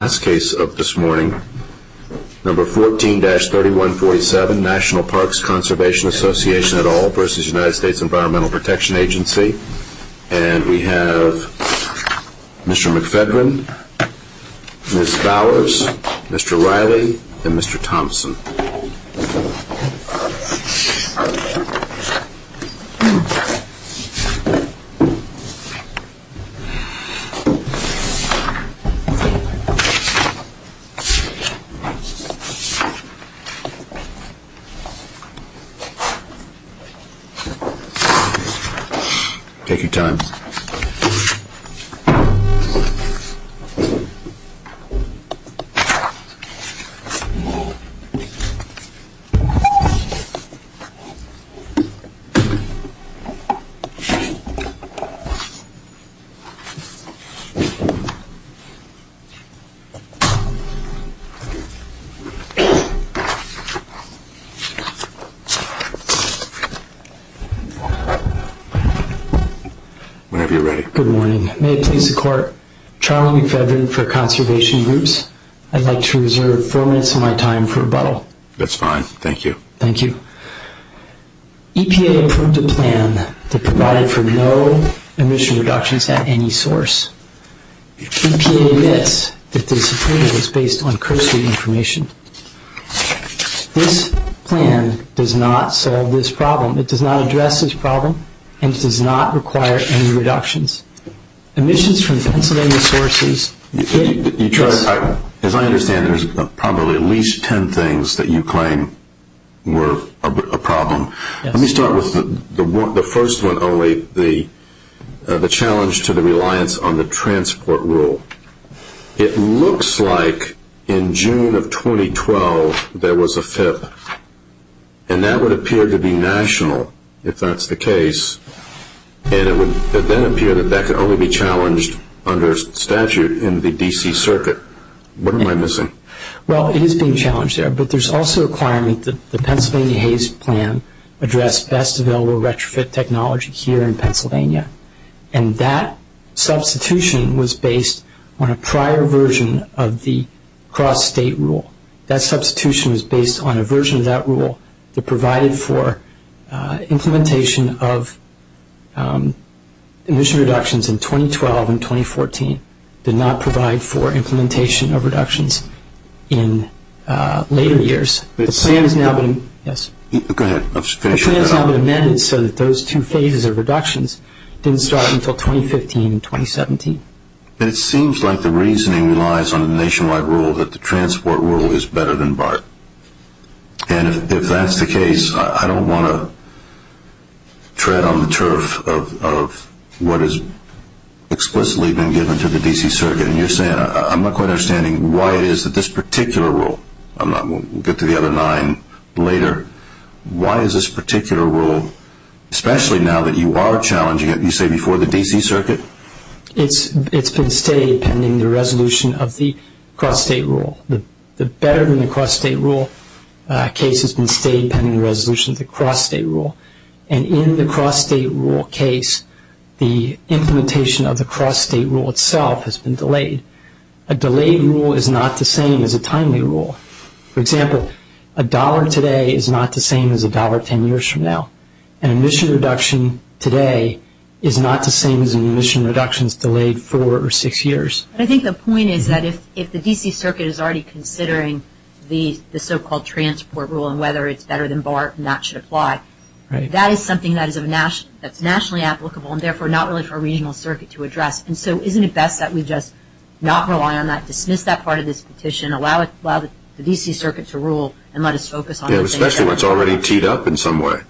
And we have Mr. McFedrin, Ms. Bowers, Mr. Riley, and Mr. Thomson. Mr. McFedrin, Mr. Riley, Ms. Bowers, Mr. Thomson, Mr. Riley, Ms. Bowers, Mr. Riley, Ms. Bowers, and Ms. Bowers, Ms. Bowers, and Ms. Bowers, Ms. Bowers. Whenever you're ready. Good Morning. May it please the Court, – Charlie McFedrin – for Conservation Groups. I would like to reserve 14 minutes of my time for rebuttal. That's fine. Thank you. Thank you. EPA approved a plan that provided for no emission reductions at any source. EPA admits that this approval is based on cursory information. This plan does not solve this problem. It does not address this problem, and it does not require any reductions. Emissions from Pennsylvania sources – As I understand, there's probably at least 10 things that you claim were a problem. Let me start with the first one only, the challenge to the reliance on the transport rule. It looks like in June of 2012, there was a FIP, and that would appear to be national, if that's the case, and it would then appear that that could only be challenged under statute in the D.C. Circuit. What am I missing? Well, it is being challenged there, but there's also a requirement that the Pennsylvania Haze Plan address best available retrofit technology here in Pennsylvania, and that substitution was based on a prior version of the cross-state rule. That substitution was based on a version of that rule that provided for implementation of emission reductions in 2012 and 2014, did not provide for implementation of reductions in later years. The plan has now been amended so that those two phases of reductions didn't start until 2015 and 2017. It seems like the reasoning relies on the nationwide rule that the transport rule is better than BART, and if that's the case, I don't want to tread on the turf of what has explicitly been given to the D.C. Circuit, and you're saying, I'm not quite understanding why it is that this particular rule, we'll get to the other nine later, why is this particular rule, especially now that you are challenging it, you say before the D.C. Circuit? It's been steady pending the resolution of the cross-state rule. The better than the cross-state rule case has been steady pending the resolution of the cross-state rule, and in the cross-state rule case, the implementation of the cross-state rule itself has been delayed. A delayed rule is not the same as a timely rule. For example, a dollar today is not the same as a dollar tomorrow. I think the point is that if the D.C. Circuit is already considering the so-called transport rule and whether it's better than BART and that should apply, that is something that is nationally applicable and therefore not really for a regional circuit to address, and so isn't it best that we just not rely on that, dismiss that part of this petition, allow the D.C. Circuit to rule, and let us focus on those areas? Yeah, especially when it's already teed up in some way.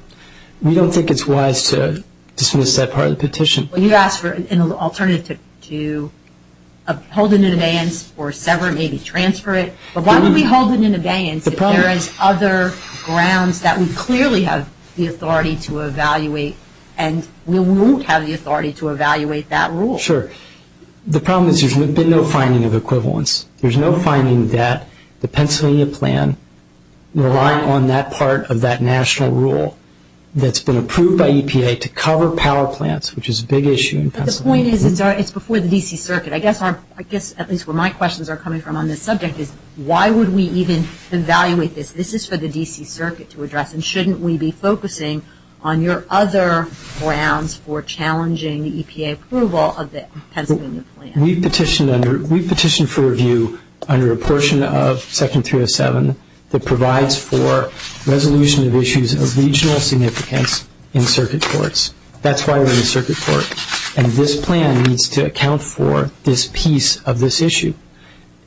We don't think it's wise to dismiss that part of the petition. Well, you asked for an alternative to hold it in abeyance or sever, maybe transfer it, but why would we hold it in abeyance if there is other grounds that we clearly have the authority to evaluate and we won't have the authority to evaluate that rule? Sure. The problem is there's been no finding of equivalence. There's no finding that the Pennsylvania plan, relying on that part of that national rule that's been approved by the D.C. Circuit, is a big issue in Pennsylvania. But the point is it's before the D.C. Circuit. I guess at least where my questions are coming from on this subject is why would we even evaluate this? This is for the D.C. Circuit to address and shouldn't we be focusing on your other grounds for challenging the EPA approval of the Pennsylvania plan? We've petitioned for review under a portion of Section 307 that provides for resolution of issues of regional significance in circuit courts. That's why we're in the circuit court. And this plan needs to account for this piece of this issue.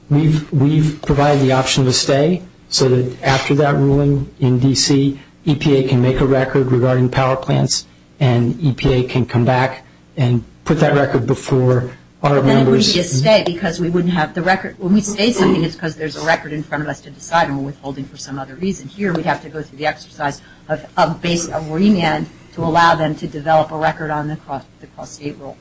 We've provided the option of a stay so that after that ruling in D.C. EPA can make a record regarding power plants and EPA can come back and put that record before our members. But then it would be a stay because we wouldn't have the record. When we say something it's because there's a record in front of us to decide and we're withholding for some other reason. Here we'd have to go through the exercise of remand to allow them to develop a record on the cross state rule.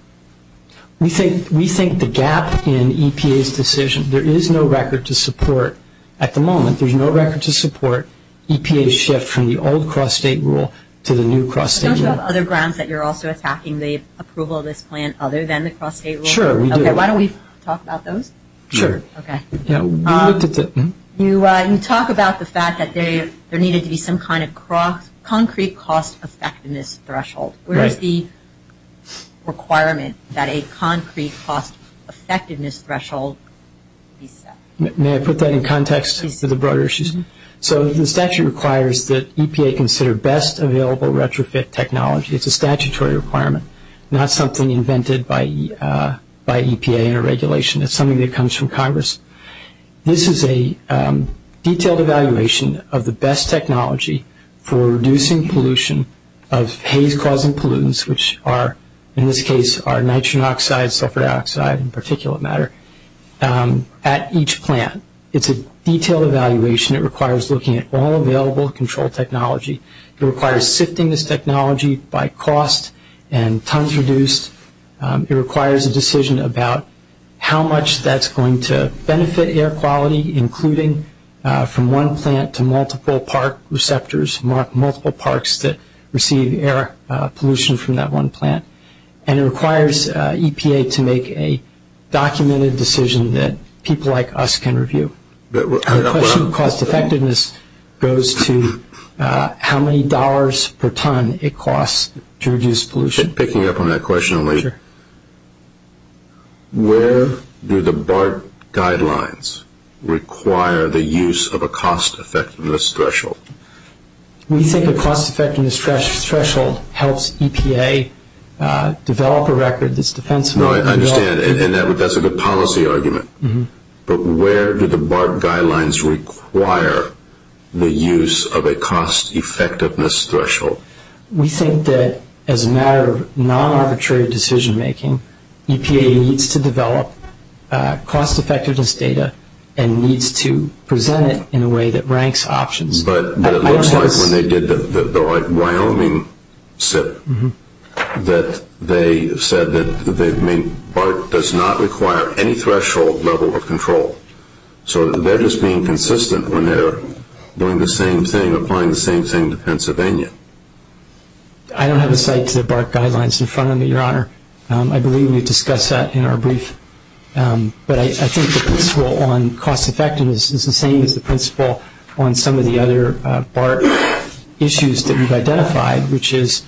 We think the gap in EPA's decision, there is no record to support at the moment, there's no record to support EPA's shift from the old cross state rule to the new cross state rule. Don't you have other grounds that you're also attacking the approval of this plan other than the cross state rule? Sure, we do. Okay, why don't we talk about those? Sure. Okay. You talk about the fact that there needed to be some kind of concrete cost effectiveness threshold. Right. Where is the requirement that a concrete cost effectiveness threshold be set? May I put that in context to the broader issues? Mm-hmm. So the statute requires that EPA consider best available retrofit technology. It's a statutory requirement, not something invented by EPA in a regulation. It's something that This is a detailed evaluation of the best technology for reducing pollution of haze causing pollutants, which are, in this case, are nitrogen oxide, sulfur dioxide, and particulate matter at each plant. It's a detailed evaluation. It requires looking at all available control technology. It requires sifting this technology by cost and tons reduced. It requires a decision about how much that's going to benefit air quality, including from one plant to multiple park receptors, multiple parks that receive air pollution from that one plant. And it requires EPA to make a documented decision that people like us can review. The question of cost effectiveness goes to how many dollars per ton it costs to reduce pollution. Picking up on that question, where do the BART guidelines require the use of a cost effectiveness threshold? We think a cost effectiveness threshold helps EPA develop a record that's defensible. No, I understand. And that's a good policy argument. But where do the BART guidelines require the use of a cost effectiveness threshold? We think that as a matter of non-arbitrary decision making, EPA needs to develop cost effectiveness data and needs to present it in a way that ranks options. But it looks like when they did the Wyoming SIP that they said that BART does not require any threshold level of control. So they're just being consistent when they're doing the same thing, applying the same thing to Pennsylvania. I don't have a cite to the BART guidelines in front of me, Your Honor. I believe we discussed that in our brief. But I think the principle on cost effectiveness is the same as the principle on some of the other BART issues that we've identified, which is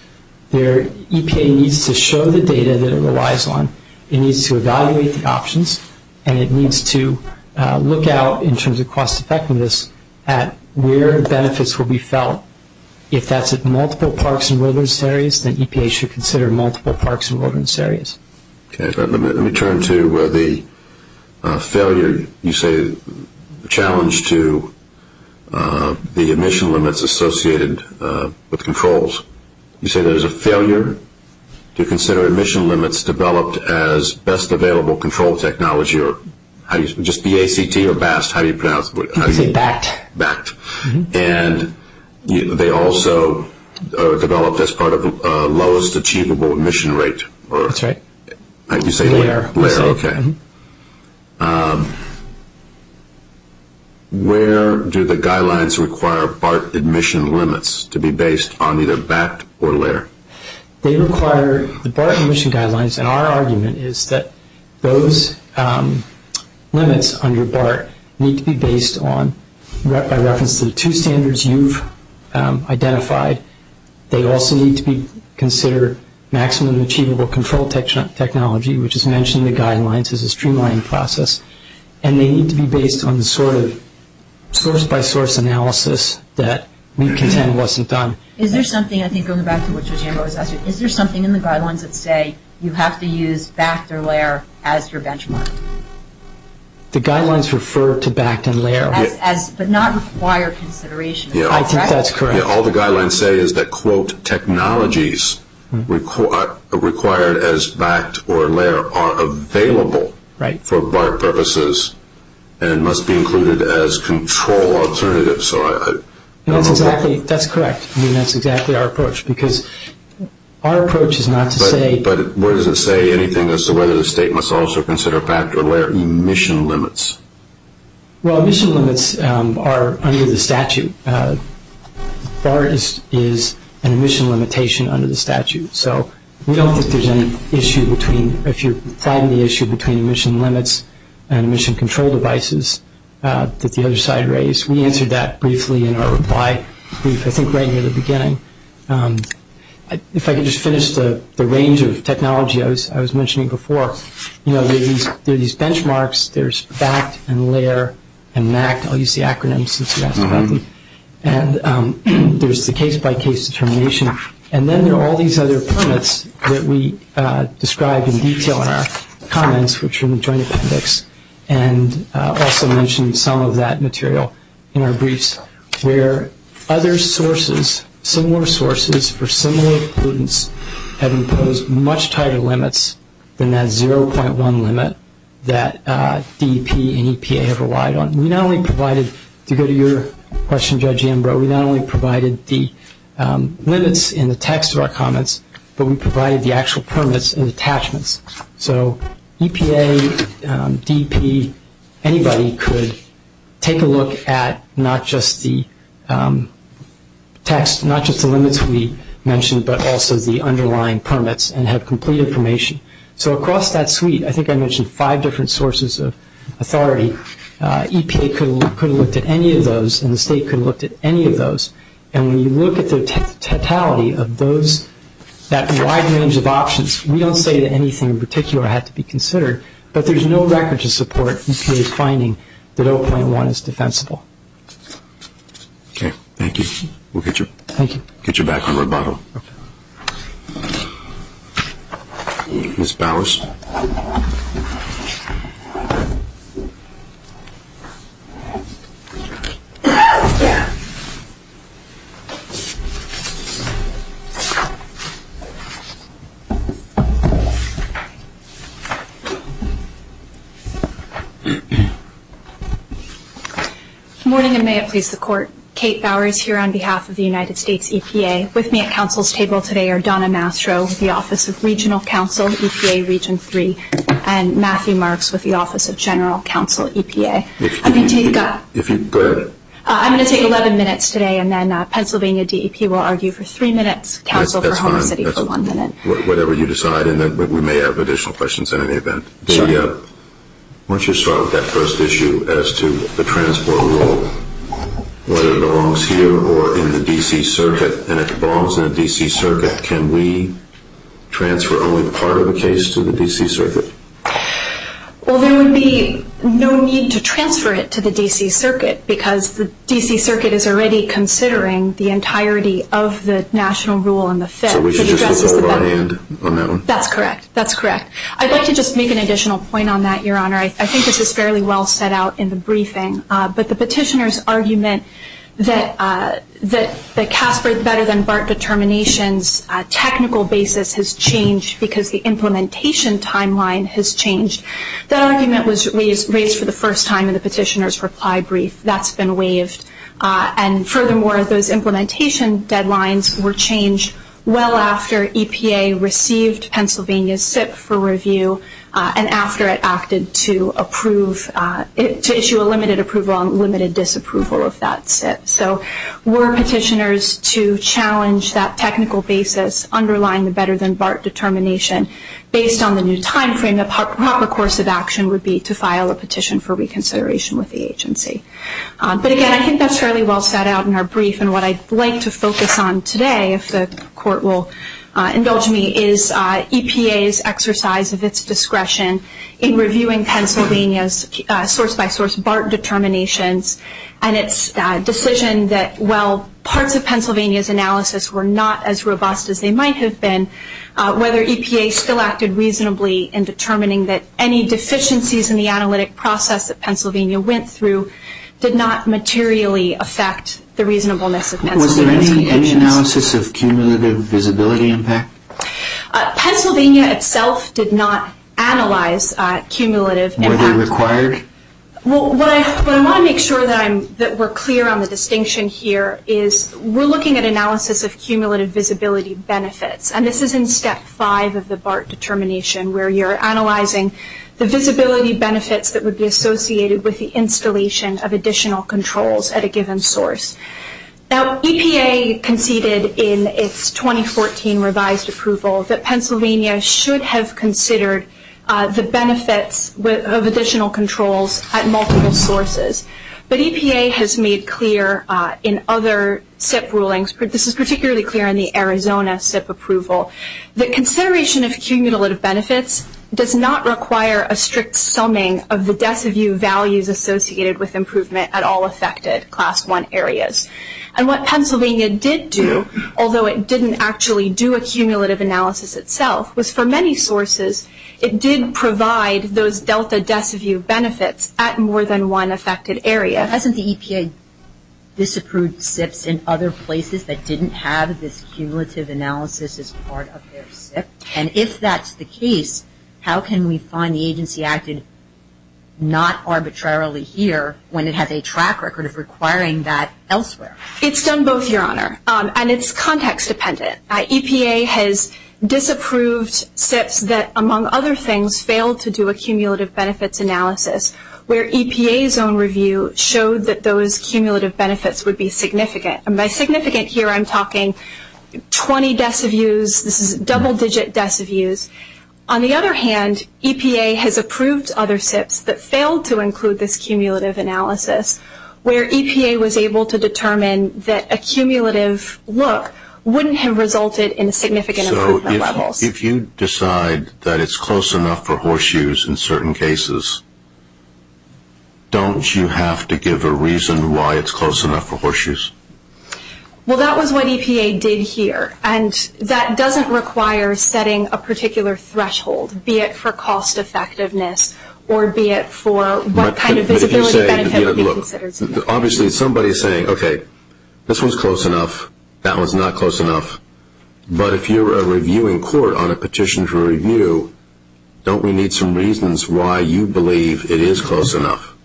EPA needs to show the data that it relies on, it needs to evaluate the options, and it needs to look out in terms of cost effectiveness at where benefits will be felt. If that's at multiple parks and wilderness areas, then EPA should consider multiple parks and wilderness areas. Let me turn to the failure, you say, challenge to the emission limits associated with controls. You say there's a failure to consider emission limits developed as best available control technology, just B-A-C-T or BAST, how do you pronounce it? You say BACT. BACT. And they also developed as part of lowest achievable emission rate. That's right. You say LARE. LARE, okay. Where do the guidelines require BART emission limits to be based on either BACT or LARE? They require the BART emission guidelines, and our argument is that those limits under BART need to be based on, by reference to the two standards you've identified, they also need to be considered maximum achievable control technology, which is mentioned in the guidelines as a streamlining process. And they need to be based on the sort of source-by-source analysis that we contend wasn't done. Is there something, I think, going back to what Jambo was asking, is there something in the guidelines that say you have to use BACT or LARE as your benchmark? The guidelines refer to BACT and LARE. But not require consideration. I think that's correct. All the guidelines say is that, quote, technologies required as BACT or LARE are available for BART purposes and must be included as control alternatives. That's correct. I mean, that's exactly our approach, because our approach is not to say… But where does it say anything as to whether the state must also consider BACT or LARE emission limits? Well, emission limits are under the statute. BART is an emission limitation under the statute. So we don't think there's any issue between, if you find the issue between emission limits and emission control devices that the other side raised. We answered that briefly in our reply brief, I think, right near the beginning. If I could just finish the range of technology I was mentioning before. You know, there are these benchmarks. There's BACT and LARE and MACT. I'll use the acronyms since you asked about them. And there's the case-by-case determination. And then there are all these other permits that we describe in detail in our comments, which are in the Joint Appendix, and also mention some of that material in our briefs, where other sources, similar sources for similar pollutants have imposed much tighter limits than that 0.1 limit that DEP and EPA have relied on. We not only provided, to go to your question, Judge Ambrose, we not only provided the limits in the text of our comments, but we provided the actual permits and attachments. So EPA, DEP, anybody could take a look at not just the text, not just the limits we mentioned, but also the underlying permits and have complete information. So across that suite, I think I mentioned five different sources of authority. EPA could have looked at any of those, and the state could have looked at any of those. And when you look at the totality of those, that wide range of options, we don't say that anything in particular had to be considered, but there's no record to support EPA's finding that 0.1 is defensible. Okay, thank you. We'll get you back on rebuttal. Ms. Bowers. Good morning, and may it please the Court. Kate Bowers here on behalf of the United States EPA. With me at counsel's table today are Donna Mastro, the Office of Regional Counsel, EPA Region 3, and Matthew Marks with the Office of General Counsel, EPA. I'm going to take 11 minutes today, and then Pennsylvania DEP will argue for three minutes, counsel for Homer City for one minute. That's fine. Whatever you decide, and then we may have additional questions in any event. Why don't you start with that first issue as to the transport rule, whether it belongs here or in the D.C. Circuit, and if it belongs in the D.C. Circuit, can we transfer only part of the case to the D.C. Circuit? Well, there would be no need to transfer it to the D.C. Circuit, because the D.C. Circuit is already considering the entirety of the national rule in the Fed. So we should just withhold our hand on that one? That's correct. That's correct. I'd like to just make an additional point on that, Your Honor. I think this is fairly well set out in the briefing, but the petitioner's argument that Casper's better than BART determinations technical basis has changed because the implementation timeline has changed, that argument was raised for the first time in the petitioner's reply brief. That's been waived. And furthermore, those implementation deadlines were changed well after EPA received Pennsylvania's SIP for review, and after it acted to issue a limited approval on limited disapproval of that SIP. So were petitioners to challenge that technical basis underlying the better than BART determination, based on the new timeframe, the proper course of action would be to file a petition for reconsideration with the agency. But again, I think that's fairly well set out in our brief, and what I'd like to focus on today, if the Court will indulge me, is EPA's exercise of its discretion in reviewing Pennsylvania's source-by-source BART determinations and its decision that while parts of Pennsylvania's analysis were not as robust as they might have been, whether EPA still acted reasonably in determining that any deficiencies in the analytic process that Pennsylvania went through did not materially affect the reasonableness of Pennsylvania's conditions. Was there any analysis of cumulative visibility impact? Pennsylvania itself did not analyze cumulative impact. Were they required? What I want to make sure that we're clear on the distinction here is we're looking at analysis of cumulative visibility benefits, and this is in Step 5 of the BART determination, where you're analyzing the visibility benefits that would be associated with the installation of additional controls at a given source. Now, EPA conceded in its 2014 revised approval that Pennsylvania should have considered the benefits of additional controls at multiple sources. But EPA has made clear in other SIP rulings, this is particularly clear in the Arizona SIP approval, that consideration of cumulative benefits does not require a strict summing of the deci-view values associated with improvement at all affected Class I areas. And what Pennsylvania did do, although it didn't actually do a cumulative analysis itself, was for many sources it did provide those delta deci-view benefits at more than one affected area. Hasn't the EPA disapproved SIPs in other places that didn't have this cumulative analysis as part of their SIP? And if that's the case, how can we find the agency acted not arbitrarily here when it has a track record of requiring that elsewhere? It's done both, Your Honor, and it's context dependent. EPA has disapproved SIPs that, among other things, failed to do a cumulative benefits analysis, where EPA's own review showed that those cumulative benefits would be significant. And by significant, here I'm talking 20 deci-views. This is double-digit deci-views. On the other hand, EPA has approved other SIPs that failed to include this cumulative analysis, where EPA was able to determine that a cumulative look wouldn't have resulted in significant improvement levels. If you decide that it's close enough for horseshoes in certain cases, don't you have to give a reason why it's close enough for horseshoes? Well, that was what EPA did here. And that doesn't require setting a particular threshold, be it for cost effectiveness or be it for what kind of visibility benefit would be considered. Obviously, somebody's saying, okay, this one's close enough, that one's not close enough. But if you're a reviewing court on a petition for review, don't we need some reasons why you believe it is close enough?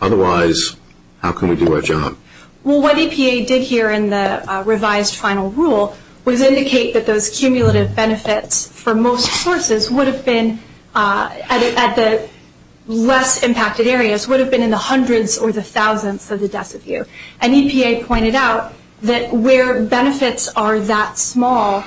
Otherwise, how can we do our job? Well, what EPA did here in the revised final rule was indicate that those cumulative benefits, for most sources, would have been at the less impacted areas, would have been in the hundreds or the thousands of the deci-view. And EPA pointed out that where benefits are that small,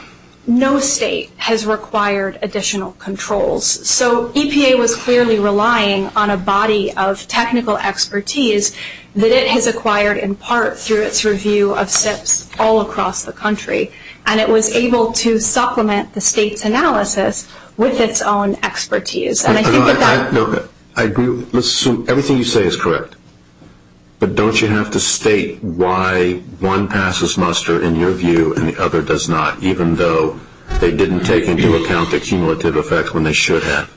no state has required additional controls. So EPA was clearly relying on a body of technical expertise that it has acquired in part through its review of SIPs all across the country. And it was able to supplement the state's analysis with its own expertise. I agree with everything you say is correct. But don't you have to state why one passes muster in your view and the other does not, even though they didn't take into account the cumulative effect when they should have?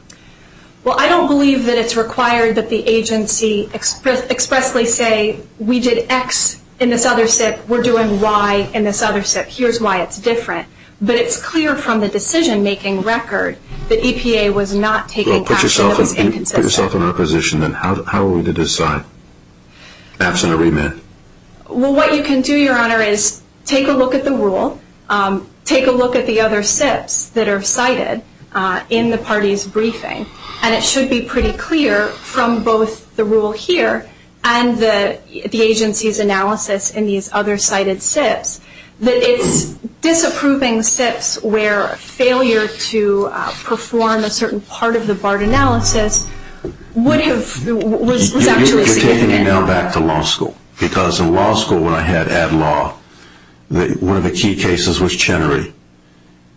Well, I don't believe that it's required that the agency expressly say, we did X in this other SIP, we're doing Y in this other SIP, here's why it's different. But it's clear from the decision-making record that EPA was not taking action that was inconsistent. Well, put yourself in our position then. How are we to decide, absent a remit? Well, what you can do, Your Honor, is take a look at the rule, take a look at the other SIPs that are cited in the party's briefing, and it should be pretty clear from both the rule here and the agency's analysis in these other cited SIPs that it's disapproving SIPs where failure to perform a certain part of the BART analysis would have, was actually significant. You're taking me now back to law school because in law school when I had ad law, one of the key cases was Chenery.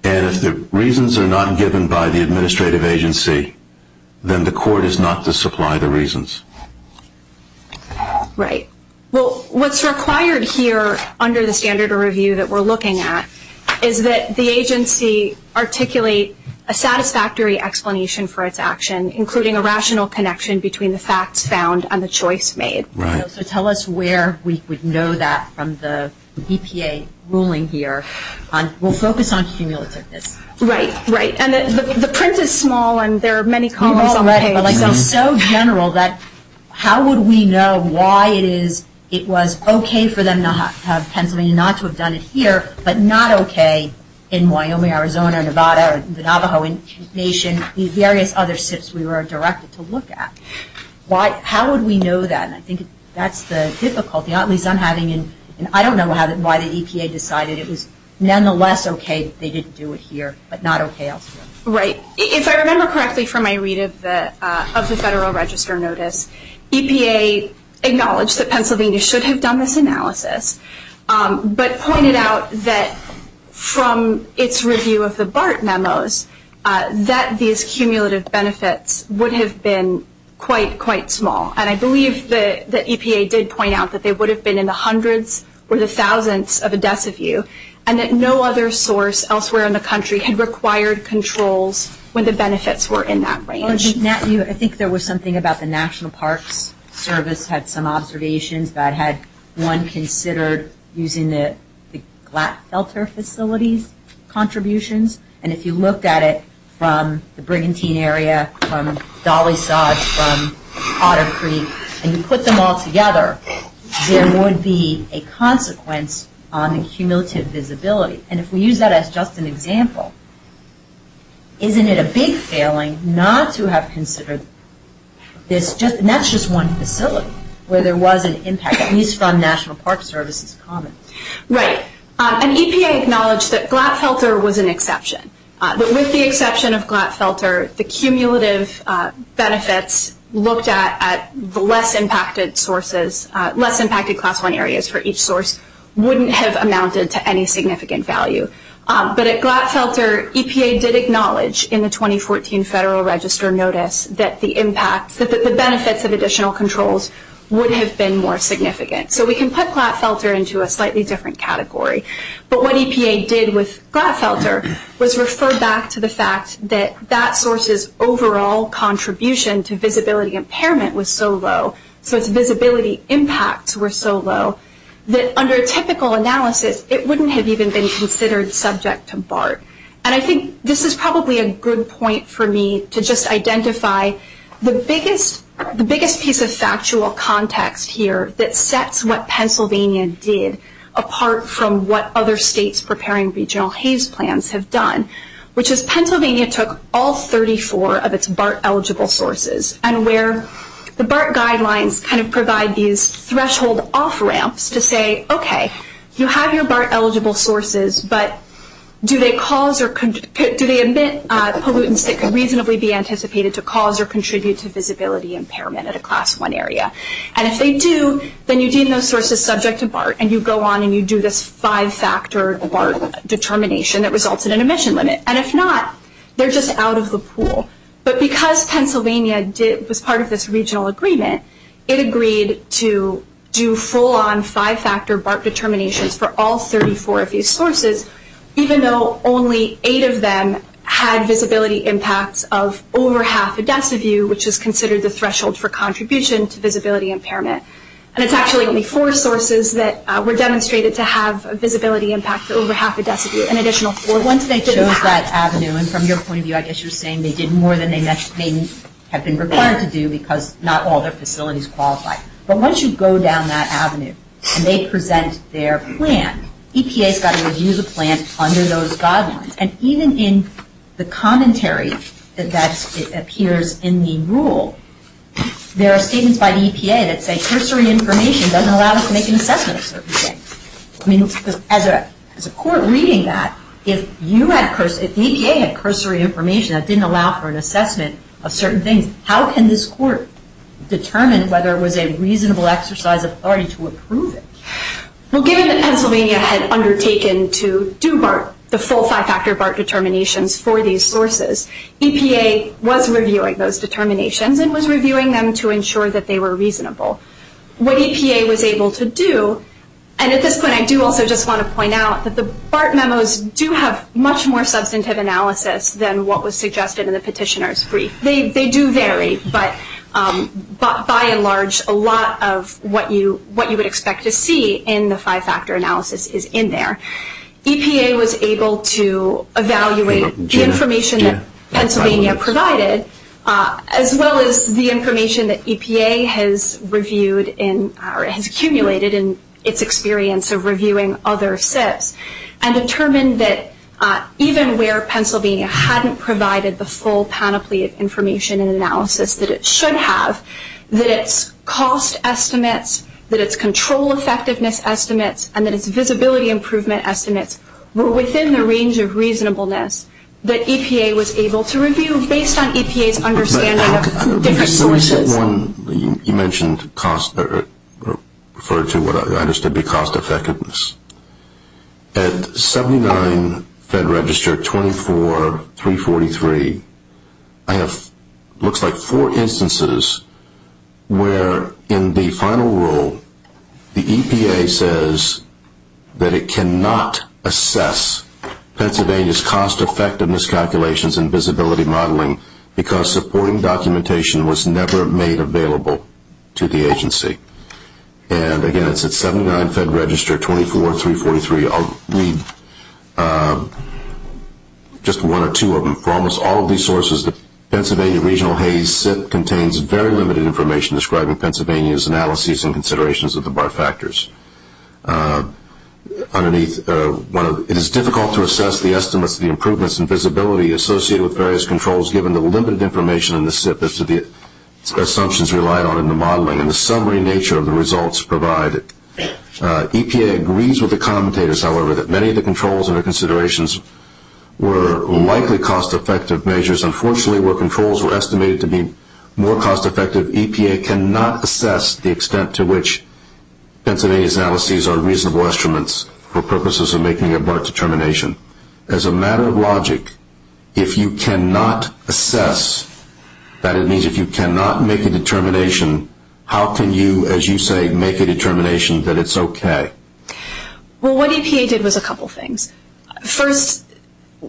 And if the reasons are not given by the administrative agency, then the court is not to supply the reasons. Right. Well, what's required here under the standard of review that we're looking at is that the agency articulate a satisfactory explanation for its action, including a rational connection between the facts found and the choice made. Right. So tell us where we would know that from the EPA ruling here. We'll focus on cumulativeness. Right, right. And the print is small and there are many columns on the page. It's so general that how would we know why it was okay for them to have Pennsylvania not to have done it here, but not okay in Wyoming, Arizona, Nevada, the Navajo Nation, the various other SIPs we were directed to look at? How would we know that? I think that's the difficulty, at least I'm having, and I don't know why the EPA decided it was nonetheless okay that they didn't do it here, but not okay elsewhere. Right. If I remember correctly from my read of the Federal Register notice, EPA acknowledged that Pennsylvania should have done this analysis, but pointed out that from its review of the BART memos, that these cumulative benefits would have been quite, quite small. And I believe that EPA did point out that they would have been in the hundreds or the thousands of a deciview, and that no other source elsewhere in the country had required controls when the benefits were in that range. I think there was something about the National Parks Service had some observations that had one considered using the Glatt Felter Facility's contributions. And if you looked at it from the Brigham Teen area, from Dolly Sods, from Otter Creek, and you put them all together, there would be a consequence on the cumulative visibility. And if we use that as just an example, isn't it a big failing not to have considered this, and that's just one facility where there was an impact, at least from National Parks Service's comment. Right. And EPA acknowledged that Glatt Felter was an exception, but with the exception of Glatt Felter, the cumulative benefits looked at at the less impacted sources, less impacted Class I areas for each source, wouldn't have amounted to any significant value. But at Glatt Felter, EPA did acknowledge in the 2014 Federal Register notice that the benefits of additional controls would have been more significant. So we can put Glatt Felter into a slightly different category. But what EPA did with Glatt Felter was refer back to the fact that that source's overall contribution to visibility impairment was so low, so its visibility impacts were so low, that under typical analysis, it wouldn't have even been considered subject to BART. And I think this is probably a good point for me to just identify the biggest piece of factual context here that sets what Pennsylvania did apart from what other states preparing regional haze plans have done, which is Pennsylvania took all 34 of its BART-eligible sources, and where the BART guidelines kind of provide these threshold off-ramps to say, okay, you have your BART-eligible sources, but do they emit pollutants that could reasonably be anticipated to cause or contribute to visibility impairment at a Class I area? And if they do, then you deem those sources subject to BART, and you go on and you do this five-factor BART determination that results in an emission limit. And if not, they're just out of the pool. But because Pennsylvania was part of this regional agreement, it agreed to do full-on five-factor BART determinations for all 34 of these sources, even though only eight of them had visibility impacts of over half a deciview, which is considered the threshold for contribution to visibility impairment. And it's actually only four sources that were demonstrated to have a visibility impact of over half a deciview, an additional four. Once they chose that avenue, and from your point of view, I guess you're saying they did more than they may have been required to do because not all their facilities qualify. But once you go down that avenue and they present their plan, EPA's got to review the plan under those guidelines. And even in the commentary that appears in the rule, there are statements by the EPA that say cursory information doesn't allow us to make an assessment of certain things. I mean, as a court reading that, if the EPA had cursory information that didn't allow for an assessment of certain things, how can this court determine whether it was a reasonable exercise of authority to approve it? Well, given that Pennsylvania had undertaken to do BART, the full five-factor BART determinations for these sources, EPA was reviewing those determinations and was reviewing them to ensure that they were reasonable. What EPA was able to do, and at this point I do also just want to point out that the BART memos do have much more substantive analysis than what was suggested in the petitioner's brief. They do vary, but by and large, a lot of what you would expect to see in the five-factor analysis is in there. EPA was able to evaluate the information that Pennsylvania provided, as well as the information that EPA has accumulated in its experience of reviewing other SIPs, and determined that even where Pennsylvania hadn't provided the full panoply of information and analysis that it should have, that its cost estimates, that its control effectiveness estimates, and that its visibility improvement estimates were within the range of reasonableness that EPA was able to review, based on EPA's understanding of different sources. You mentioned cost, or referred to what I understood to be cost effectiveness. At 79 Fed Register 24343, I have what looks like four instances where in the final rule, the EPA says that it cannot assess Pennsylvania's cost effectiveness calculations and visibility modeling, because supporting documentation was never made available to the agency. And again, it's at 79 Fed Register 24343. I'll read just one or two of them. For almost all of these sources, the Pennsylvania Regional HAYS SIP contains very limited information describing Pennsylvania's analyses and considerations of the BART factors. It is difficult to assess the estimates of the improvements in visibility associated with various controls given the limited information in the SIP as to the assumptions relied on in the modeling and the summary nature of the results provided. EPA agrees with the commentators, however, that many of the controls and their considerations were likely cost effective measures. Unfortunately, where controls were estimated to be more cost effective, EPA cannot assess the extent to which Pennsylvania's analyses are reasonable instruments for purposes of making a BART determination. As a matter of logic, if you cannot assess, that is, if you cannot make a determination, how can you, as you say, make a determination that it's okay? Well, what EPA did was a couple of things. First,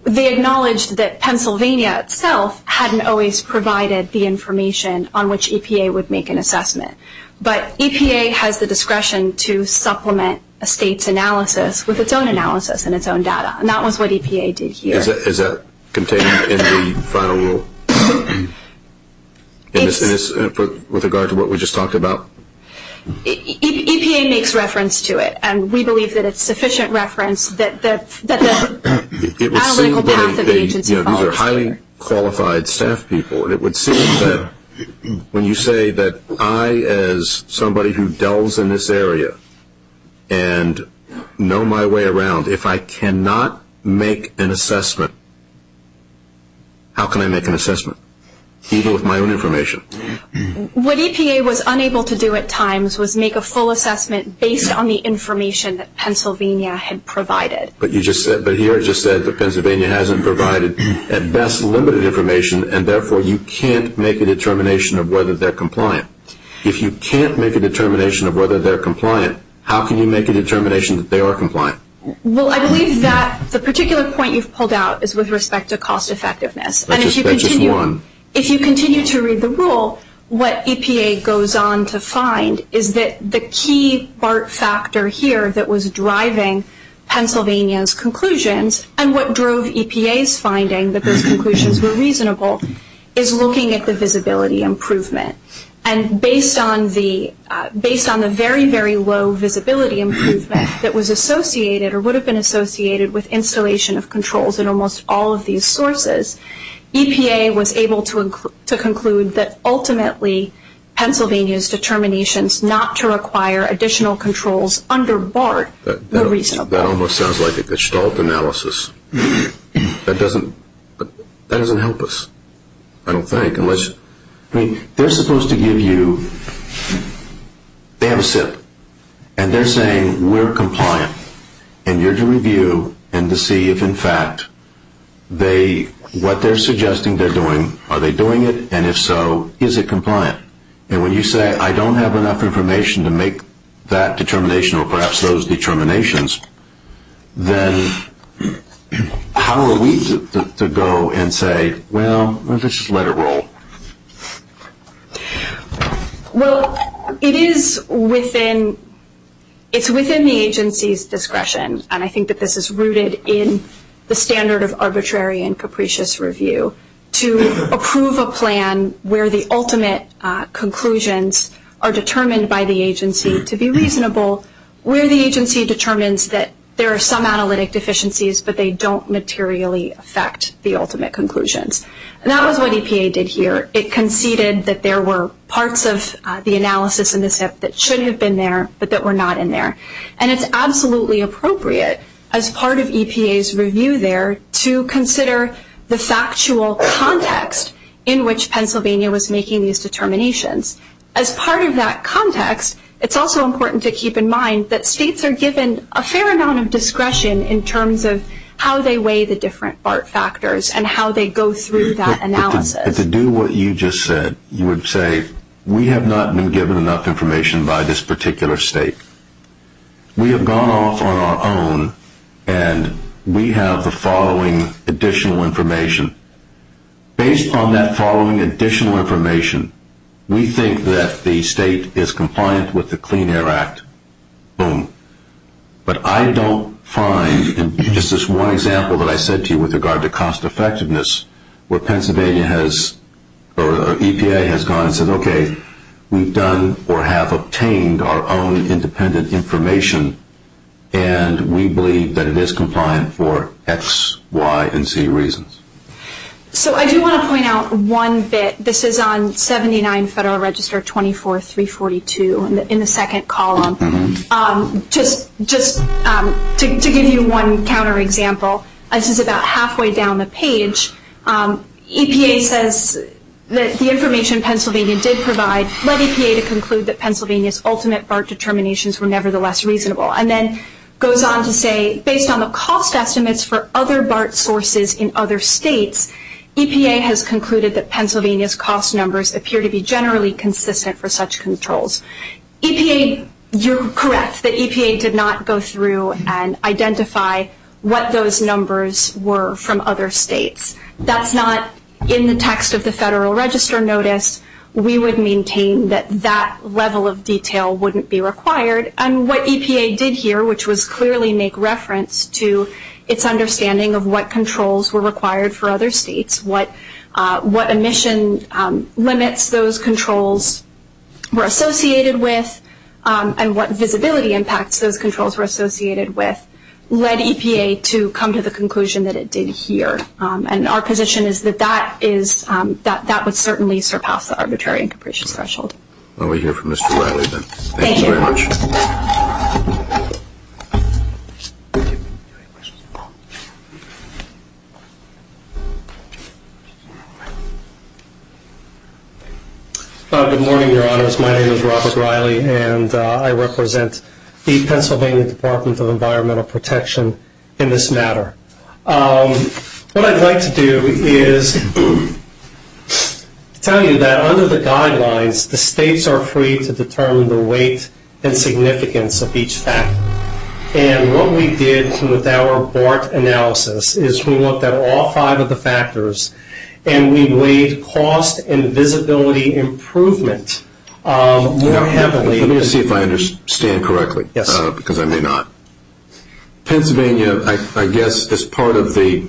they acknowledged that Pennsylvania itself hadn't always provided the information on which EPA would make an assessment, but EPA has the discretion to supplement a state's analysis with its own analysis and its own data, and that was what EPA did here. Is that contained in the final rule with regard to what we just talked about? EPA makes reference to it, and we believe that it's sufficient reference that the analytical path of the agency follows there. These are highly qualified staff people, and it would seem that when you say that I, as somebody who delves in this area and know my way around, if I cannot make an assessment, how can I make an assessment, even with my own information? What EPA was unable to do at times was make a full assessment based on the information that Pennsylvania had provided. But here it just said that Pennsylvania hasn't provided, at best, limited information, and therefore you can't make a determination of whether they're compliant. If you can't make a determination of whether they're compliant, how can you make a determination that they are compliant? Well, I believe that the particular point you've pulled out is with respect to cost effectiveness. That's just one. If you continue to read the rule, what EPA goes on to find is that the key part factor here that was driving Pennsylvania's conclusions and what drove EPA's finding that those conclusions were reasonable is looking at the visibility improvement. And based on the very, very low visibility improvement that was associated or would have been associated with installation of controls in almost all of these sources, EPA was able to conclude that ultimately Pennsylvania's determinations not to require additional controls under BART were reasonable. That almost sounds like a Gestalt analysis. That doesn't help us, I don't think. They're supposed to give you, they have a SIP, and they're saying we're compliant. And you're to review and to see if, in fact, what they're suggesting they're doing, are they doing it? And if so, is it compliant? And when you say I don't have enough information to make that determination or perhaps those determinations, then how are we to go and say, well, let's just let it roll? Well, it is within the agency's discretion, and I think that this is rooted in the standard of arbitrary and capricious review to approve a plan where the ultimate conclusions are determined by the agency to be reasonable, where the agency determines that there are some analytic deficiencies but they don't materially affect the ultimate conclusions. And that was what EPA did here. It conceded that there were parts of the analysis in the SIP that should have been there but that were not in there. And it's absolutely appropriate as part of EPA's review there to consider the factual context in which Pennsylvania was making these determinations. As part of that context, it's also important to keep in mind that states are given a fair amount of discretion in terms of how they weigh the different BART factors and how they go through that analysis. To do what you just said, you would say we have not been given enough information by this particular state. We have gone off on our own, and we have the following additional information. Based on that following additional information, we think that the state is compliant with the Clean Air Act. Boom. But I don't find, and this is one example that I said to you with regard to cost effectiveness, where Pennsylvania has, or EPA has gone and said, okay, we've done or have obtained our own independent information, and we believe that it is compliant for X, Y, and Z reasons. So I do want to point out one bit. This is on 79 Federal Register 24342 in the second column. Just to give you one counterexample, this is about halfway down the page. EPA says that the information Pennsylvania did provide led EPA to conclude that Pennsylvania's ultimate BART determinations were nevertheless reasonable, and then goes on to say, based on the cost estimates for other BART sources in other states, EPA has concluded that Pennsylvania's cost numbers appear to be generally consistent for such controls. EPA, you're correct that EPA did not go through and identify what those numbers were from other states. That's not in the text of the Federal Register notice. We would maintain that that level of detail wouldn't be required, and what EPA did here, which was clearly make reference to its understanding of what controls were required for other states, what emission limits those controls were associated with, and what visibility impacts those controls were associated with, led EPA to come to the conclusion that it did here. And our position is that that would certainly surpass the arbitrary and capricious threshold. Well, we'll hear from Mr. Riley then. Thank you very much. Good morning, Your Honors. My name is Robert Riley, and I represent the Pennsylvania Department of Environmental Protection in this matter. What I'd like to do is tell you that under the guidelines, the states are free to determine the weight and significance of each factor. And what we did with our BART analysis is we looked at all five of the factors, and we weighed cost and visibility improvement more heavily. Let me see if I understand correctly, because I may not. Pennsylvania, I guess, as part of the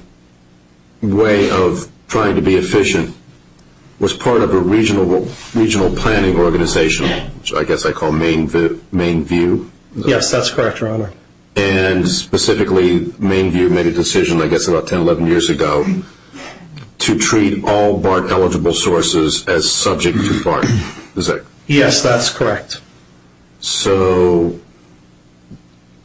way of trying to be efficient, was part of a regional planning organization, which I guess I call Mainview. Yes, that's correct, Your Honor. And specifically, Mainview made a decision, I guess about 10, 11 years ago, to treat all BART-eligible sources as subject to BART. Yes, that's correct. So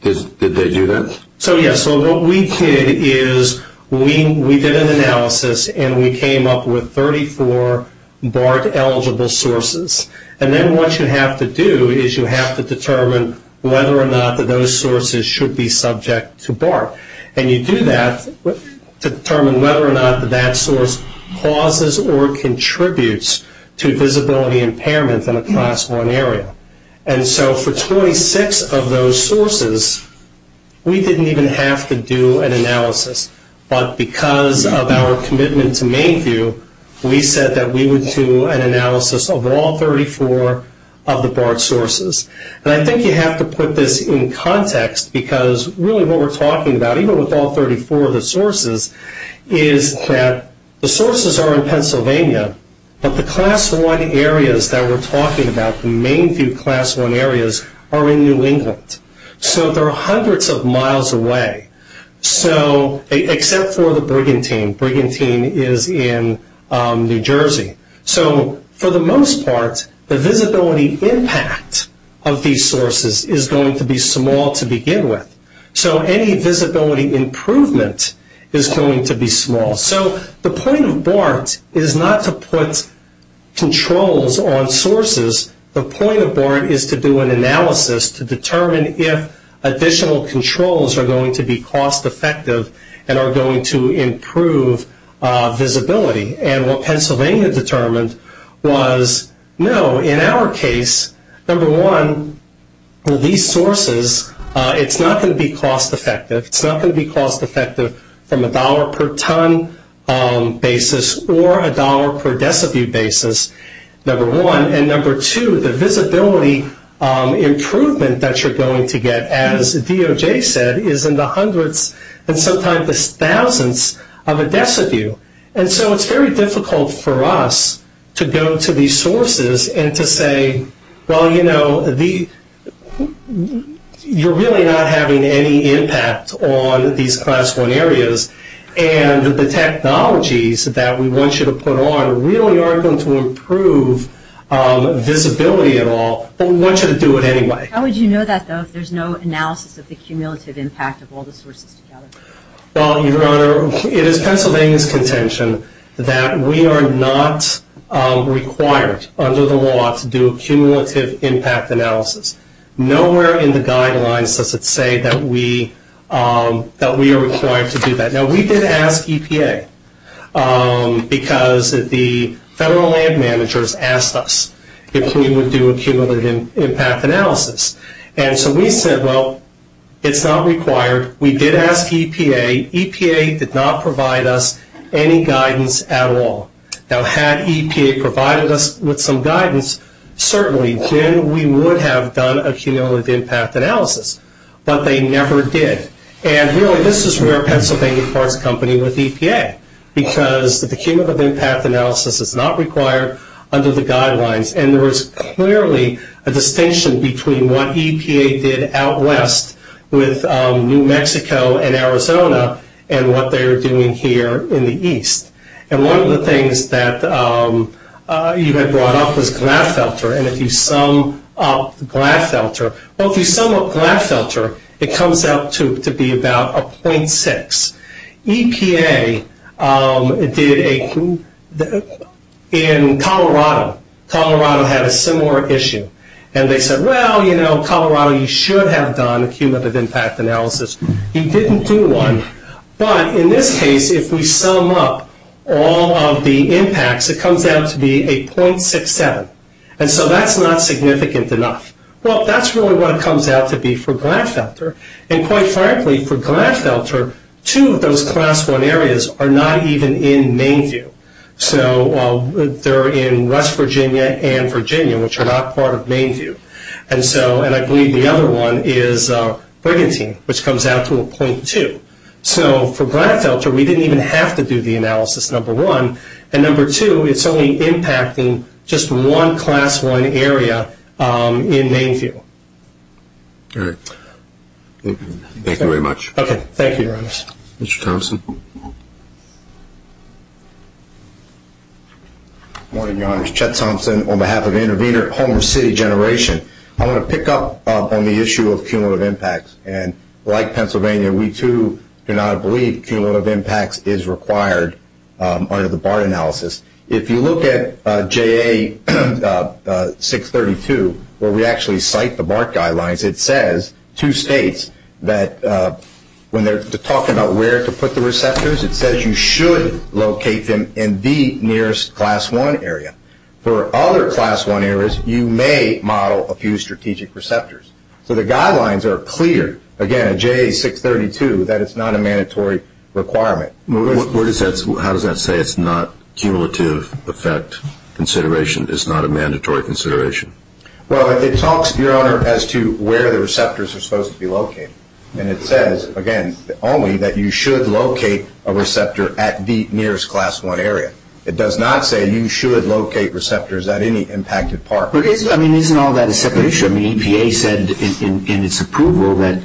did they do that? So, yes. So what we did is we did an analysis, and we came up with 34 BART-eligible sources. And then what you have to do is you have to determine whether or not those sources should be subject to BART. And you do that to determine whether or not that source causes or contributes to visibility impairment in a Class 1 area. And so for 26 of those sources, we didn't even have to do an analysis. But because of our commitment to Mainview, we said that we would do an analysis of all 34 of the BART sources. And I think you have to put this in context, because really what we're talking about, even with all 34 of the sources, is that the sources are in Pennsylvania, but the Class 1 areas that we're talking about, the Mainview Class 1 areas, are in New England. So they're hundreds of miles away, except for the Brigantine. Brigantine is in New Jersey. So for the most part, the visibility impact of these sources is going to be small to begin with. So any visibility improvement is going to be small. So the point of BART is not to put controls on sources. The point of BART is to do an analysis to determine if additional controls are going to be cost-effective and are going to improve visibility. And what Pennsylvania determined was, no, in our case, number one, these sources, it's not going to be cost-effective. It's not going to be cost-effective from a dollar-per-ton basis or a dollar-per-decibute basis, number one. And number two, the visibility improvement that you're going to get, as DOJ said, is in the hundreds and sometimes the thousands of a decibute. And so it's very difficult for us to go to these sources and to say, well, you know, you're really not having any impact on these Class 1 areas. And the technologies that we want you to put on really aren't going to improve visibility at all, but we want you to do it anyway. How would you know that, though, if there's no analysis of the cumulative impact of all the sources together? Well, Your Honor, it is Pennsylvania's contention that we are not required under the law to do a cumulative impact analysis. Nowhere in the guidelines does it say that we are required to do that. Now, we did ask EPA because the federal land managers asked us if we would do a cumulative impact analysis. And so we said, well, it's not required. We did ask EPA. EPA did not provide us any guidance at all. Now, had EPA provided us with some guidance, certainly then we would have done a cumulative impact analysis. But they never did. And really this is where Pennsylvania farts company with EPA, because the cumulative impact analysis is not required under the guidelines. And there was clearly a distinction between what EPA did out west with New Mexico and Arizona and what they are doing here in the east. And one of the things that you had brought up was glass filter. And if you sum up glass filter, well, if you sum up glass filter, it comes out to be about a 0.6. EPA did a, in Colorado, Colorado had a similar issue. And they said, well, you know, Colorado, you should have done a cumulative impact analysis. He didn't do one. But in this case, if we sum up all of the impacts, it comes out to be a 0.67. And so that's not significant enough. Well, that's really what it comes out to be for glass filter. And quite frankly, for glass filter, two of those Class I areas are not even in Mainview. So they're in West Virginia and Virginia, which are not part of Mainview. And so, and I believe the other one is Brigantine, which comes out to a 0.2. So for glass filter, we didn't even have to do the analysis, number one. And number two, it's only impacting just one Class I area in Mainview. All right. Thank you very much. Thank you, Your Honors. Mr. Thompson. Good morning, Your Honors. Chet Thompson on behalf of Intervenor, Homer City Generation. I want to pick up on the issue of cumulative impacts. And like Pennsylvania, we, too, do not believe cumulative impacts is required under the BART analysis. If you look at JA-632, where we actually cite the BART guidelines, it says two states that when they're talking about where to put the receptors, it says you should locate them in the nearest Class I area. For other Class I areas, you may model a few strategic receptors. So the guidelines are clear, again, at JA-632, that it's not a mandatory requirement. How does that say it's not cumulative effect consideration? It's not a mandatory consideration? Well, it talks, Your Honor, as to where the receptors are supposed to be located. And it says, again, only that you should locate a receptor at the nearest Class I area. It does not say you should locate receptors at any impacted part. But isn't all that a separate issue? The EPA said in its approval that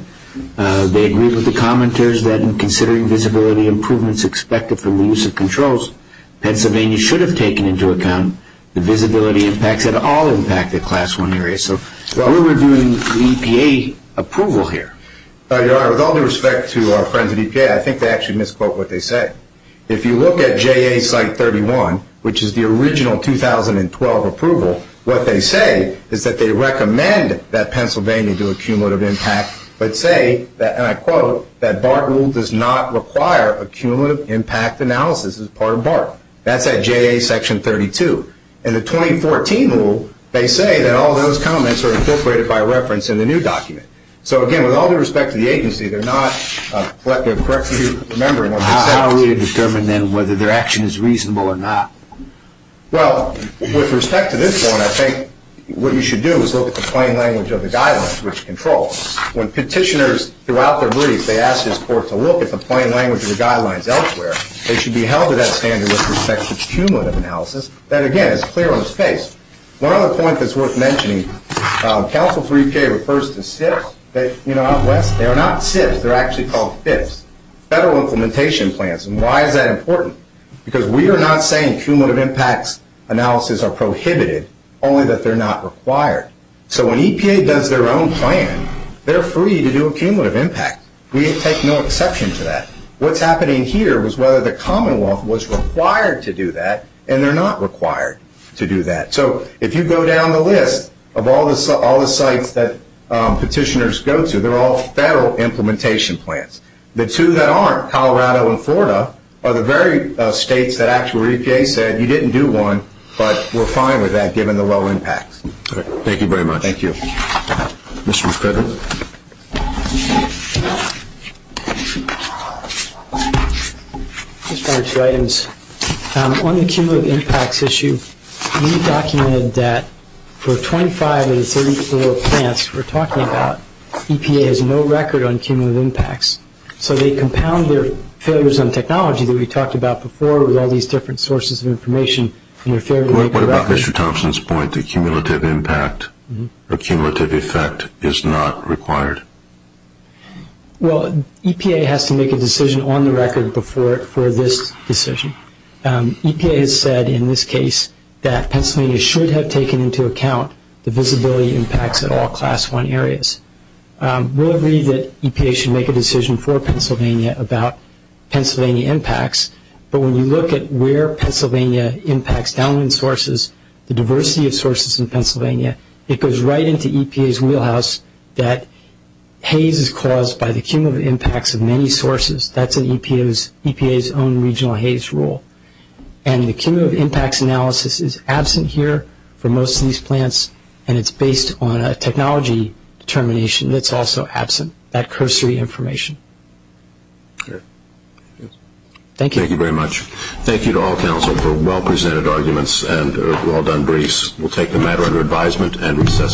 they agreed with the commenters that in considering visibility improvements expected from the use of controls, Pennsylvania should have taken into account the visibility impacts at all impacted Class I areas. So what are we doing with the EPA approval here? Your Honor, with all due respect to our friends at EPA, I think they actually misquote what they say. If you look at JA-site 31, which is the original 2012 approval, what they say is that they recommend that Pennsylvania do a cumulative impact, but say, and I quote, that BART rule does not require a cumulative impact analysis as part of BART. That's at JA-section 32. In the 2014 rule, they say that all those comments are incorporated by reference in the new document. So, again, with all due respect to the agency, they're not a collective corrective member. How are we to determine then whether their action is reasonable or not? Well, with respect to this one, I think what you should do is look at the plain language of the guidelines, which controls. When petitioners throughout their brief, they ask this court to look at the plain language of the guidelines elsewhere, they should be held to that standard with respect to cumulative analysis. That, again, is clear on its face. One other point that's worth mentioning, Council 3K refers to SIPs. You know, out west, they are not SIPs. They're actually called FIPs, Federal Implementation Plans. And why is that important? Because we are not saying cumulative impacts analysis are prohibited, only that they're not required. So when EPA does their own plan, they're free to do a cumulative impact. We take no exception to that. What's happening here was whether the Commonwealth was required to do that, and they're not required to do that. So if you go down the list of all the sites that petitioners go to, they're all Federal Implementation Plans. The two that aren't, Colorado and Florida, are the very states that actually EPA said you didn't do one, but we're fine with that given the low impacts. Thank you very much. Thank you. Mr. McRibbon? Just one or two items. On the cumulative impacts issue, we documented that for 25 of the 34 plants we're talking about, EPA has no record on cumulative impacts. So they compound their failures on technology that we talked about before with all these different sources of information. What about Mr. Thompson's point that cumulative impact or cumulative effect is not required? Well, EPA has to make a decision on the record for this decision. EPA has said in this case that Pennsylvania should have taken into account the visibility impacts at all Class I areas. We'll agree that EPA should make a decision for Pennsylvania about Pennsylvania impacts, but when you look at where Pennsylvania impacts downwind sources, the diversity of sources in Pennsylvania, it goes right into EPA's wheelhouse that haze is caused by the cumulative impacts of many sources. That's in EPA's own regional haze rule. And the cumulative impacts analysis is absent here for most of these plants, and it's based on a technology determination that's also absent, that cursory information. Okay. Thank you. Thank you very much. Thank you to all counsel for well-presented arguments and well-done briefs. We'll take the matter under advisement and recess for the day.